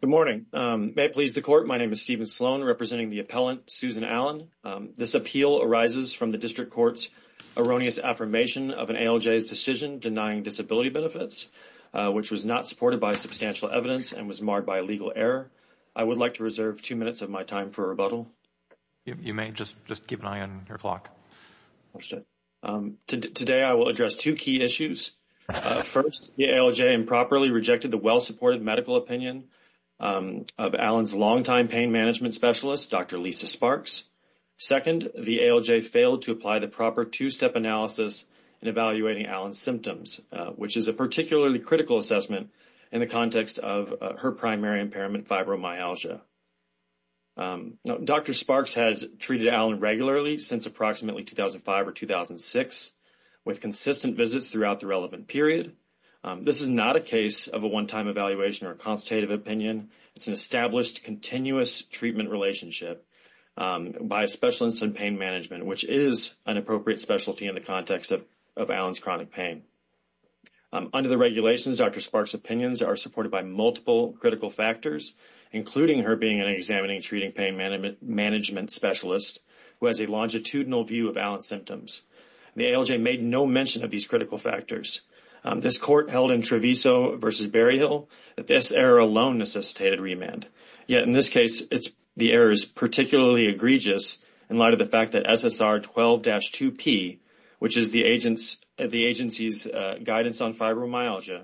Good morning. May it please the court. My name is Stephen Sloan, representing the appellant Susan Allen. This appeal arises from the district court's erroneous affirmation of an ALJ's decision denying disability benefits, which was not supported by substantial evidence and was marred by legal error. I would like to reserve two minutes of my time for rebuttal. You may just keep an eye on your clock. Today I will address two key issues. First, the ALJ improperly rejected the well-supported medical opinion of Allen's longtime pain management specialist, Dr. Lisa Sparks. Second, the ALJ failed to apply the proper two-step analysis in evaluating Allen's symptoms, which is a particularly critical assessment in the context of her primary impairment, fibromyalgia. Dr. Sparks has treated Allen regularly since approximately 2005 or 2006, with consistent visits throughout the relevant period. This is not a case of a one-time evaluation or a consultative opinion. It's an established, continuous treatment relationship by a specialist in pain management, which is an appropriate specialty in the context of Allen's chronic pain. Under the regulations, Dr. Sparks' opinions are supported by multiple critical factors, including her being an examining treating pain management specialist who has a longitudinal view of Allen's symptoms. The ALJ made no mention of these critical factors. This court held in Treviso v. Berryhill that this error alone necessitated remand. Yet in this case, the error is particularly egregious in light of the fact that SSR 12-2P, which is the agency's guidance on fibromyalgia,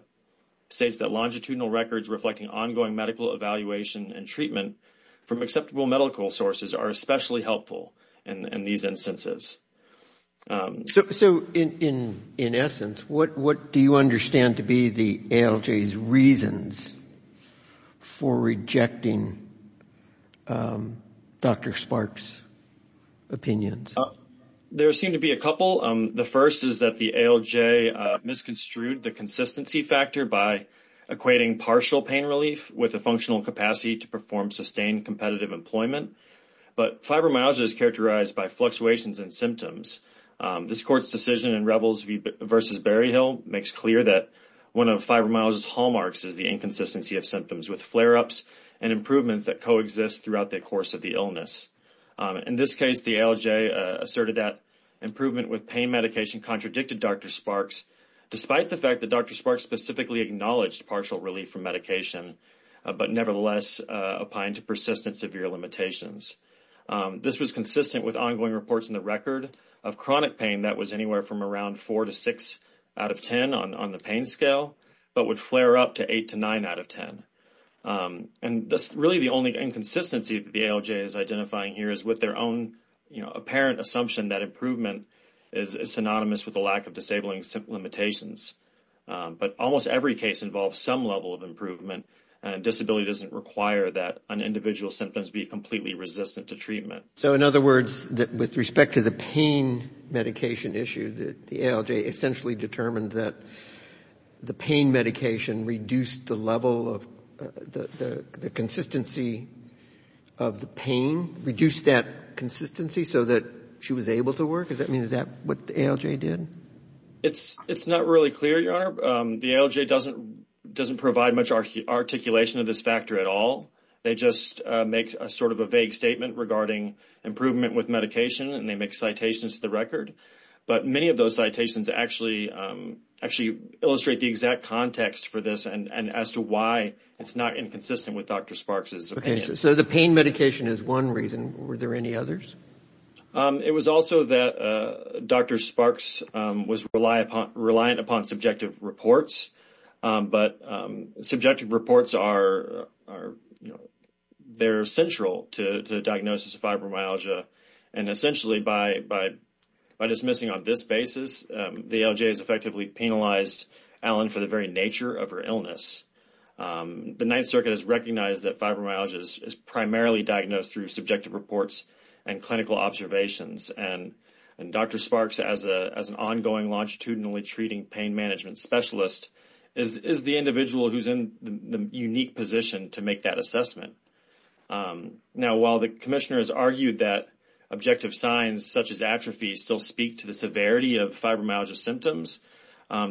states that longitudinal records reflecting ongoing medical evaluation and treatment from acceptable medical sources are especially helpful in these instances. So in essence, what do you understand to be the ALJ's reasons for rejecting Dr. Sparks' opinions? There seem to be a couple. The first is that the ALJ misconstrued the consistency factor by equating partial pain relief with a functional capacity to perform sustained competitive employment. But fibromyalgia is characterized by fluctuations in symptoms. This court's decision in Rebels v. Berryhill makes clear that one of fibromyalgia's hallmarks is the inconsistency of symptoms, with flare-ups and improvements that coexist throughout the course of the illness. In this case, the ALJ asserted that improvement with pain medication contradicted Dr. Sparks' despite the fact that Dr. Sparks specifically acknowledged partial relief from medication, but nevertheless opined to persistent severe limitations. This was consistent with ongoing reports in the record of chronic pain that was anywhere from around 4 to 6 out of 10 on the pain scale, but would flare up to 8 to 9 out of 10. And really the only inconsistency the ALJ is identifying here is with their own apparent assumption that improvement is synonymous with a lack of disabling limitations. But almost every case involves some level of improvement, and disability doesn't require that an individual's symptoms be completely resistant to treatment. So in other words, with respect to the pain medication issue, the ALJ essentially determined that the pain medication reduced the level of the consistency of the pain, reduced that consistency so that she was able to work? Does that mean that's what the ALJ did? It's not really clear, Your Honor. The ALJ doesn't provide much articulation of this factor at all. They just make sort of a vague statement regarding improvement with medication, and they make citations to the record. But many of those citations actually illustrate the exact context for this and as to why it's not inconsistent with Dr. Sparks' opinion. So the pain medication is one reason. Were there any others? It was also that Dr. Sparks was reliant upon subjective reports, but subjective reports are, you know, they're central to diagnosis of fibromyalgia. And essentially by dismissing on this basis, the ALJ has effectively penalized Allen for the very nature of her illness. The Ninth Circuit has recognized that fibromyalgia is primarily diagnosed through subjective reports and clinical observations. And Dr. Sparks, as an ongoing longitudinally treating pain management specialist, is the individual who's in the unique position to make that assessment. Now, while the commissioner has argued that objective signs such as atrophy still speak to the severity of fibromyalgia symptoms,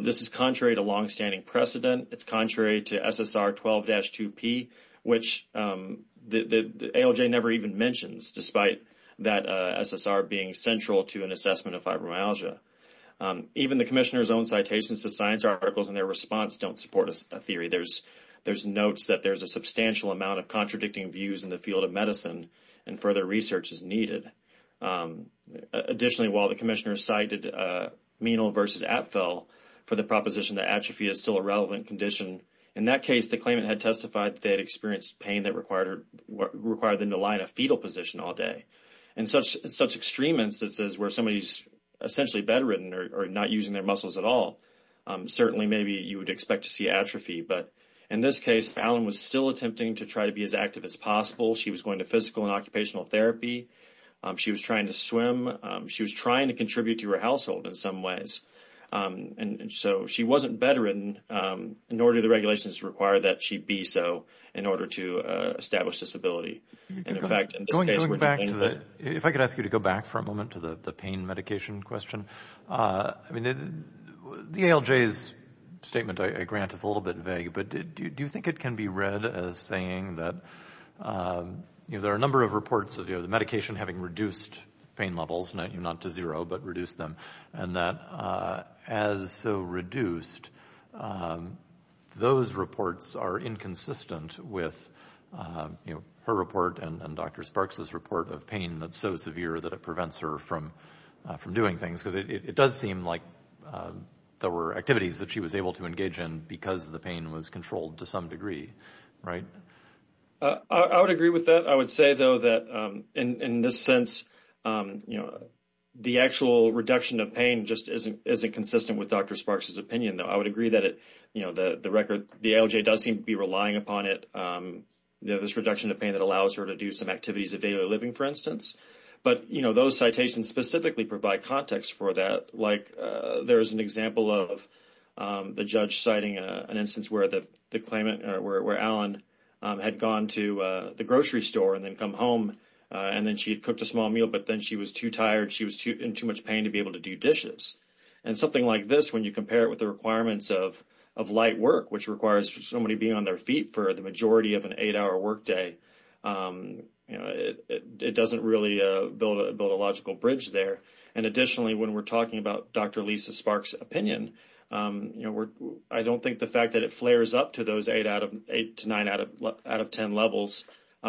this is contrary to longstanding precedent. It's contrary to SSR 12-2P, which the ALJ never even mentions despite that SSR being central to an assessment of fibromyalgia. Even the commissioner's own citations to science articles and their response don't support a theory. There's notes that there's a substantial amount of contradicting views in the field of medicine and further research is needed. Additionally, while the commissioner cited Menil versus Atfill for the proposition that atrophy is still a relevant condition, in that case, the claimant had testified that they had experienced pain that required them to lie in a fetal position all day. In such extreme instances where somebody's essentially bedridden or not using their muscles at all, certainly maybe you would expect to see atrophy. But in this case, Fallon was still attempting to try to be as active as possible. She was going to physical and occupational therapy. She was trying to swim. She was trying to contribute to her household in some ways. And so she wasn't bedridden, nor do the regulations require that she be so in order to establish this ability. Going back to the, if I could ask you to go back for a moment to the pain medication question. I mean, the ALJ's statement I grant is a little bit vague, but do you think it can be read as saying that there are a number of reports of the medication having reduced pain levels, not to zero, but reduce them. And that as so reduced, those reports are inconsistent with her report and Dr. Sparks's report of pain that's so severe that it prevents her from doing things. Because it does seem like there were activities that she was able to engage in because the pain was controlled to some degree, right? I would agree with that. I would say, though, that in this sense, the actual reduction of pain just isn't consistent with Dr. Sparks's opinion, though. I would agree that the record, the ALJ does seem to be relying upon it, this reduction of pain that allows her to do some activities of daily living, for instance. But, you know, those citations specifically provide context for that. Like, there is an example of the judge citing an instance where Allen had gone to the grocery store and then come home and then she had cooked a small meal, but then she was too tired, she was in too much pain to be able to do dishes. And something like this, when you compare it with the requirements of light work, which requires somebody being on their feet for the majority of an eight-hour workday, you know, it doesn't really build a logical bridge there. And additionally, when we're talking about Dr. Lisa Sparks's opinion, you know, I don't think the fact that it flares up to those eight to nine out of ten levels,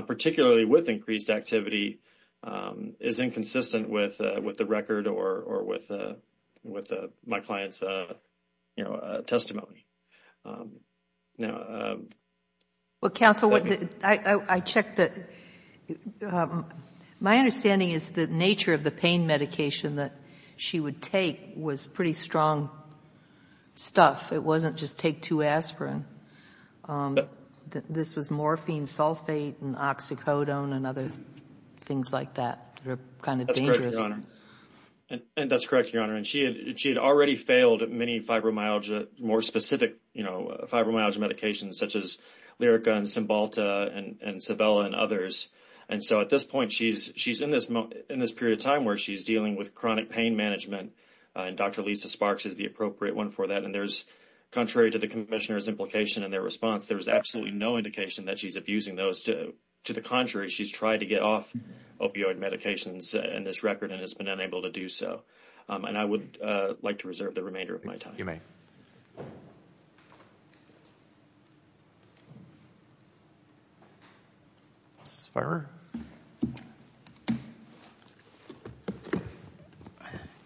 particularly with increased activity, is inconsistent with the record or with my client's, you know, testimony. Now... Well, counsel, I checked the... My understanding is the nature of the pain medication that she would take was pretty strong stuff. It wasn't just take two aspirin. This was morphine, sulfate, and oxycodone and other things like that that are kind of dangerous. And that's correct, Your Honor. And she had already failed many fibromyalgia, more specific, you know, fibromyalgia medications such as Lyrica and Cymbalta and Civella and others. And so at this point, she's in this period of time where she's dealing with chronic pain management, and Dr. Lisa Sparks is the appropriate one for that. And there's, contrary to the commissioner's implication and their response, there's absolutely no indication that she's abusing those. To the contrary, she's tried to get off opioid medications in this record and has been unable to do so. And I would like to reserve the remainder of my time. Mrs. Farmer?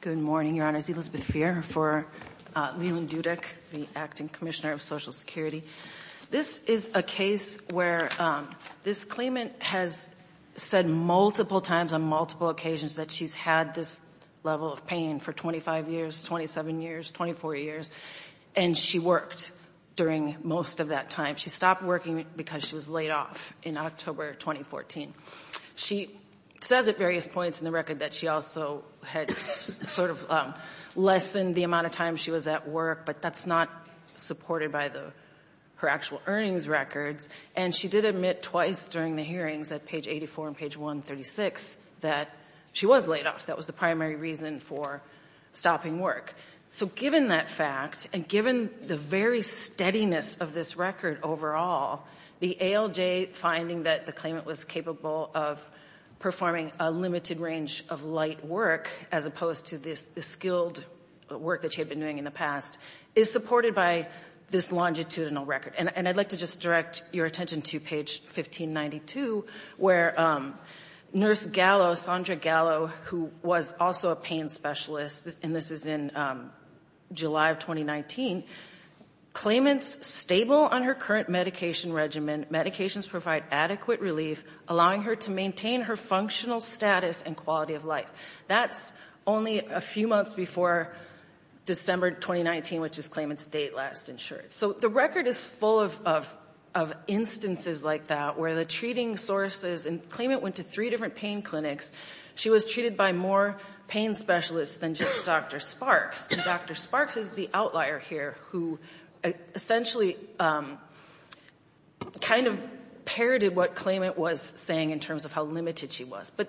Good morning, Your Honor. It's Elizabeth Fair for Leland Dudek, the Acting Commissioner of Social Security. This is a case where this claimant has said multiple times on multiple occasions that she's had this level of pain for 25 years, 27 years, 24 years, and she worked during most of that time. She stopped working because she was laid off in October 2014. She says at various points in the record that she also had sort of lessened the amount of time she was at work, but that's not supported by her actual earnings records. And she did admit twice during the hearings at page 84 and page 136 that she was laid off. That was the primary reason for stopping work. So given that fact and given the very steadiness of this record overall, the ALJ finding that the claimant was capable of performing a limited range of light work as opposed to the skilled work that she had been doing in the past is supported by this longitudinal record. And I'd like to just direct your attention to page 1592 where Nurse Gallo, Sandra Gallo, who was also a pain specialist, and this is in July of 2019, claimant's stable on her current medication regimen, medications provide adequate relief, allowing her to maintain her functional status and quality of life. That's only a few months before December 2019, which is claimant's date last insured. So the record is full of instances like that where the treating sources and claimant went to three different pain clinics. She was treated by more pain specialists than just Dr. Sparks. And Dr. Sparks is the outlier here who essentially kind of parroted what claimant was saying in terms of how limited she was. But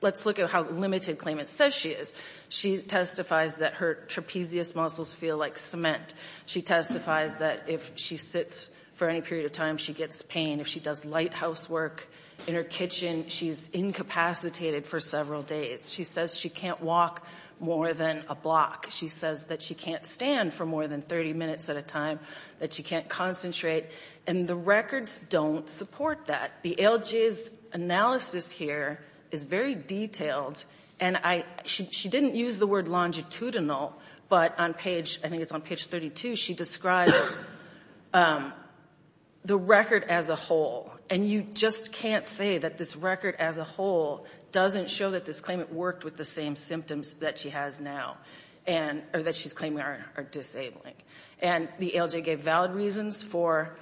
let's look at how limited claimant says she is. She testifies that her trapezius muscles feel like cement. She testifies that if she sits for any period of time, she gets pain. If she does lighthouse work in her kitchen, she's incapacitated for several days. She says she can't walk more than a block. She says that she can't stand for more than 30 minutes at a time, that she can't concentrate. And the records don't support that. The ALJ's analysis here is very detailed. She didn't use the word longitudinal, but on page, I think it's on page 32, she describes the record as a whole. And you just can't say that this record as a whole doesn't show that this claimant worked with the same symptoms that she has now. Or that she's claiming are disabling. And the ALJ gave valid reasons for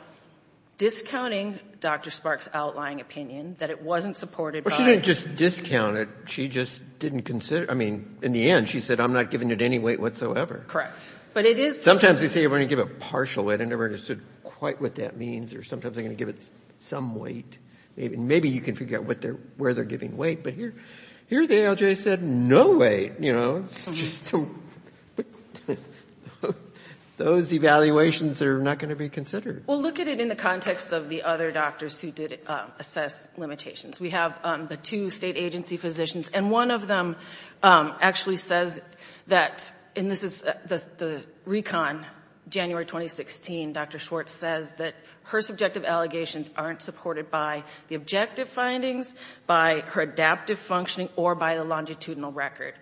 discounting Dr. Sparks' outlying opinion, that it wasn't supported by her. Well, she didn't just discount it. She just didn't consider it. I mean, in the end, she said, I'm not giving it any weight whatsoever. Correct. But it is true. Sometimes they say we're going to give it partial weight. I never understood quite what that means. Or sometimes they're going to give it some weight. Maybe you can figure out where they're giving weight. But here the ALJ said no weight, you know. Those evaluations are not going to be considered. Well, look at it in the context of the other doctors who did assess limitations. We have the two state agency physicians. And one of them actually says that, and this is the recon, January 2016, Dr. Schwartz says that her subjective allegations aren't supported by the objective findings, by her adaptive functioning, or by the longitudinal record.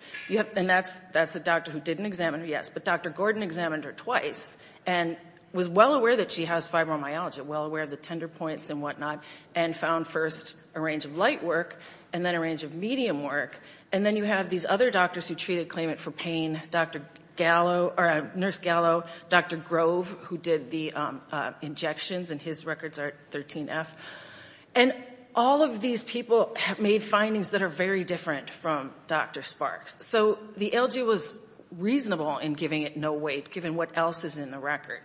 And that's a doctor who didn't examine her, yes. But Dr. Gordon examined her twice and was well aware that she has fibromyalgia, well aware of the tender points and whatnot, and found first a range of light work and then a range of medium work. And then you have these other doctors who treated claimant for pain, Dr. Gallo, or Nurse Gallo, Dr. Grove, who did the injections, and his records are 13F. And all of these people have made findings that are very different from Dr. Sparks. So the ALJ was reasonable in giving it no weight, given what else is in the record.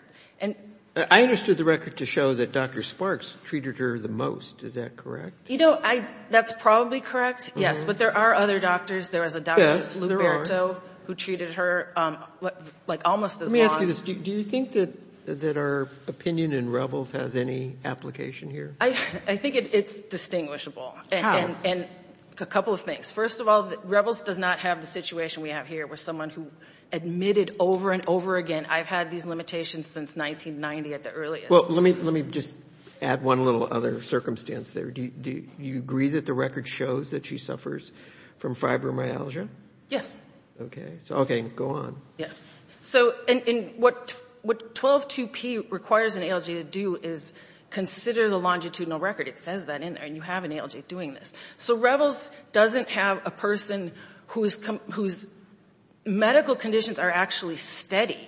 I understood the record to show that Dr. Sparks treated her the most. Is that correct? You know, that's probably correct, yes. But there are other doctors. There was a Dr. Luberto who treated her, like, almost as long. Let me ask you this. Do you think that our opinion in REBLS has any application here? I think it's distinguishable. And a couple of things. First of all, REBLS does not have the situation we have here with someone who admitted over and over again, I've had these limitations since 1990 at the earliest. Well, let me just add one little other circumstance there. Do you agree that the record shows that she suffers from fibromyalgia? Yes. Okay. So, okay, go on. Yes. So what 12.2p requires an ALJ to do is consider the longitudinal record. It says that in there, and you have an ALJ doing this. So REBLS doesn't have a person whose medical conditions are actually steady.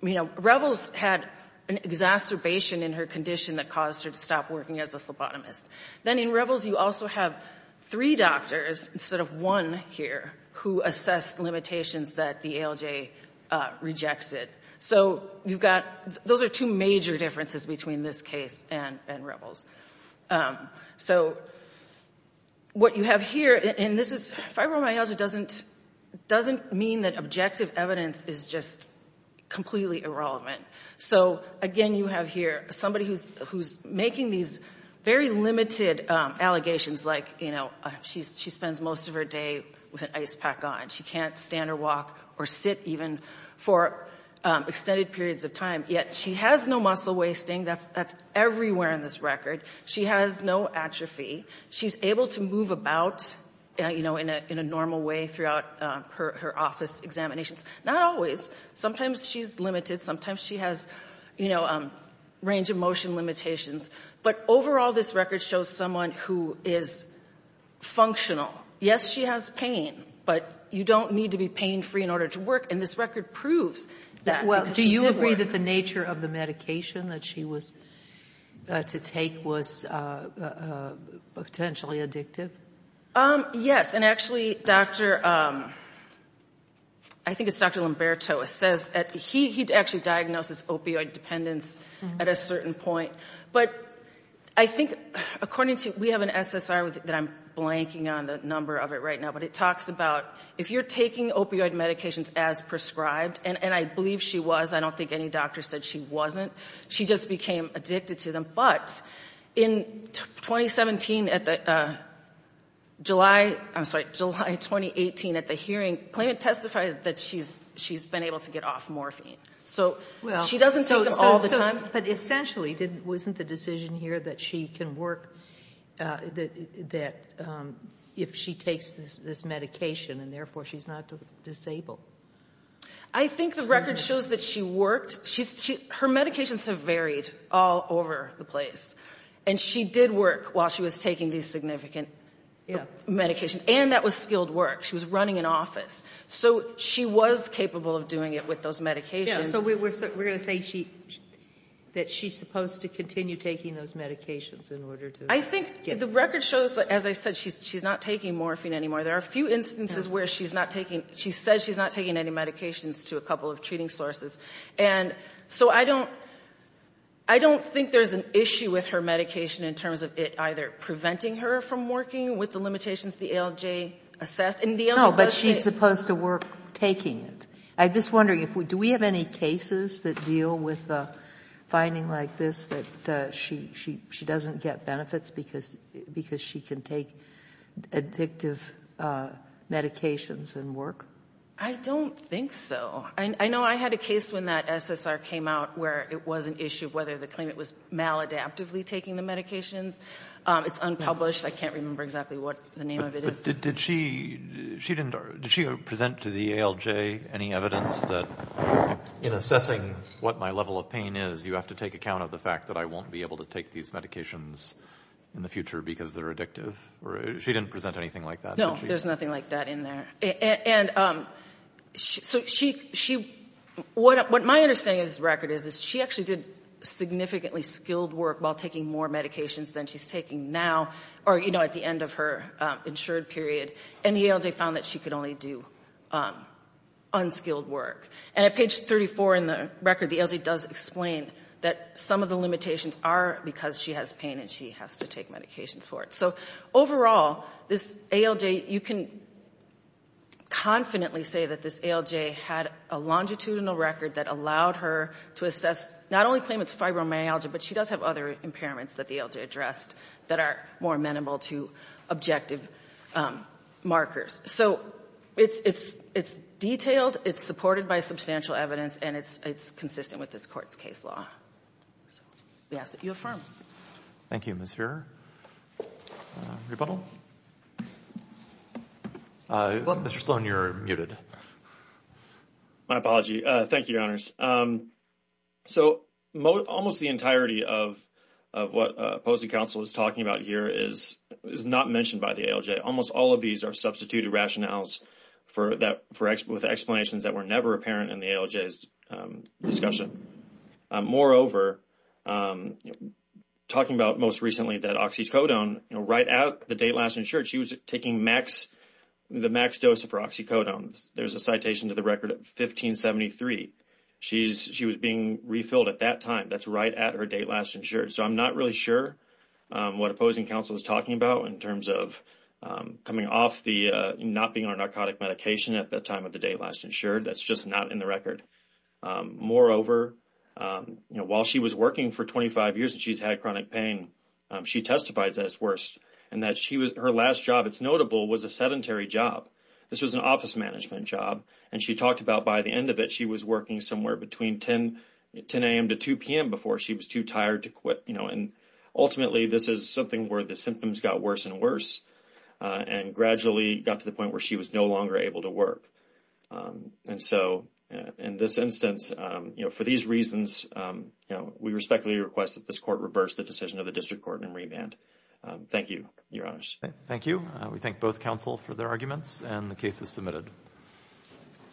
You know, REBLS had an exacerbation in her condition that caused her to stop working as a phlebotomist. Then in REBLS, you also have three doctors, instead of one here, who assessed limitations that the ALJ rejected. So you've got, those are two major differences between this case and REBLS. So what you have here, and this is, fibromyalgia doesn't mean that objective evidence is just completely irrelevant. So, again, you have here somebody who's making these very limited allegations like, you know, she spends most of her day with an ice pack on. She can't stand or walk or sit even for extended periods of time, yet she has no muscle wasting. That's everywhere in this record. She has no atrophy. She's able to move about, you know, in a normal way throughout her office examinations. Not always. Sometimes she's limited. Sometimes she has, you know, range of motion limitations. But overall, this record shows someone who is functional. Yes, she has pain, but you don't need to be pain-free in order to work. And this record proves that. Do you agree that the nature of the medication that she was to take was potentially addictive? Yes. And actually, Dr. ‑‑ I think it's Dr. Lomberto. He actually diagnosed as opioid dependence at a certain point. But I think according to ‑‑ we have an SSR that I'm blanking on the number of it right now, but it talks about if you're taking opioid medications as prescribed, and I believe she was. I don't think any doctor said she wasn't. She just became addicted to them. But in 2017, July ‑‑ I'm sorry, July 2018 at the hearing, claimant testified that she's been able to get off morphine. So she doesn't take them all the time. But essentially, wasn't the decision here that she can work that if she takes this medication and therefore she's not disabled? I think the record shows that she worked. Her medications have varied all over the place. And she did work while she was taking these significant medications. And that was skilled work. She was running an office. So she was capable of doing it with those medications. So we're going to say that she's supposed to continue taking those medications in order to get ‑‑ I think the record shows, as I said, she's not taking morphine anymore. There are a few instances where she's not taking ‑‑ she says she's not taking any medications to a couple of treating sources. And so I don't ‑‑ I don't think there's an issue with her medication in terms of it either preventing her from working with the limitations the ALJ assessed. No, but she's supposed to work taking it. I'm just wondering, do we have any cases that deal with a finding like this that she doesn't get benefits because she can take addictive medications and work? I don't think so. I know I had a case when that SSR came out where it was an issue whether the claimant was maladaptively taking the medications. It's unpublished. I can't remember exactly what the name of it is. But did she ‑‑ did she present to the ALJ any evidence that in assessing what my level of pain is, you have to take account of the fact that I won't be able to take these medications in the future because they're addictive? She didn't present anything like that. No, there's nothing like that in there. And so she ‑‑ what my understanding of this record is, is she actually did significantly skilled work while taking more medications than she's taking now or, you know, at the end of her insured period. And the ALJ found that she could only do unskilled work. And at page 34 in the record, the ALJ does explain that some of the limitations are because she has pain and she has to take medications for it. So overall, this ALJ, you can confidently say that this ALJ had a longitudinal record that allowed her to assess not only claimant's fibromyalgia, but she does have other impairments that the ALJ addressed that are more amenable to objective markers. So it's detailed, it's supported by substantial evidence, and it's consistent with this court's case law. So we ask that you affirm. Thank you, Ms. Feurer. Rebuttal? Mr. Sloan, you're muted. My apology. Thank you, Your Honors. So almost the entirety of what opposing counsel is talking about here is not mentioned by the ALJ. Almost all of these are substituted rationales with explanations that were never apparent in the ALJ's discussion. Moreover, talking about most recently that oxycodone, right at the date last insured, she was taking the max dose of her oxycodone. There's a citation to the record of 1573. She was being refilled at that time. That's right at her date last insured. So I'm not really sure what opposing counsel is talking about in terms of coming off the not being on narcotic medication at the time of the date last insured. That's just not in the record. Moreover, while she was working for 25 years and she's had chronic pain, she testifies that it's worse and that her last job, it's notable, was a sedentary job. This was an office management job. And she talked about by the end of it she was working somewhere between 10 a.m. to 2 p.m. before she was too tired to quit. And ultimately, this is something where the symptoms got worse and worse and gradually got to the point where she was no longer able to work. And so in this instance, for these reasons, we respectfully request that this court reverse the decision of the district court and remand. Thank you, Your Honors. Thank you. We thank both counsel for their arguments, and the case is submitted.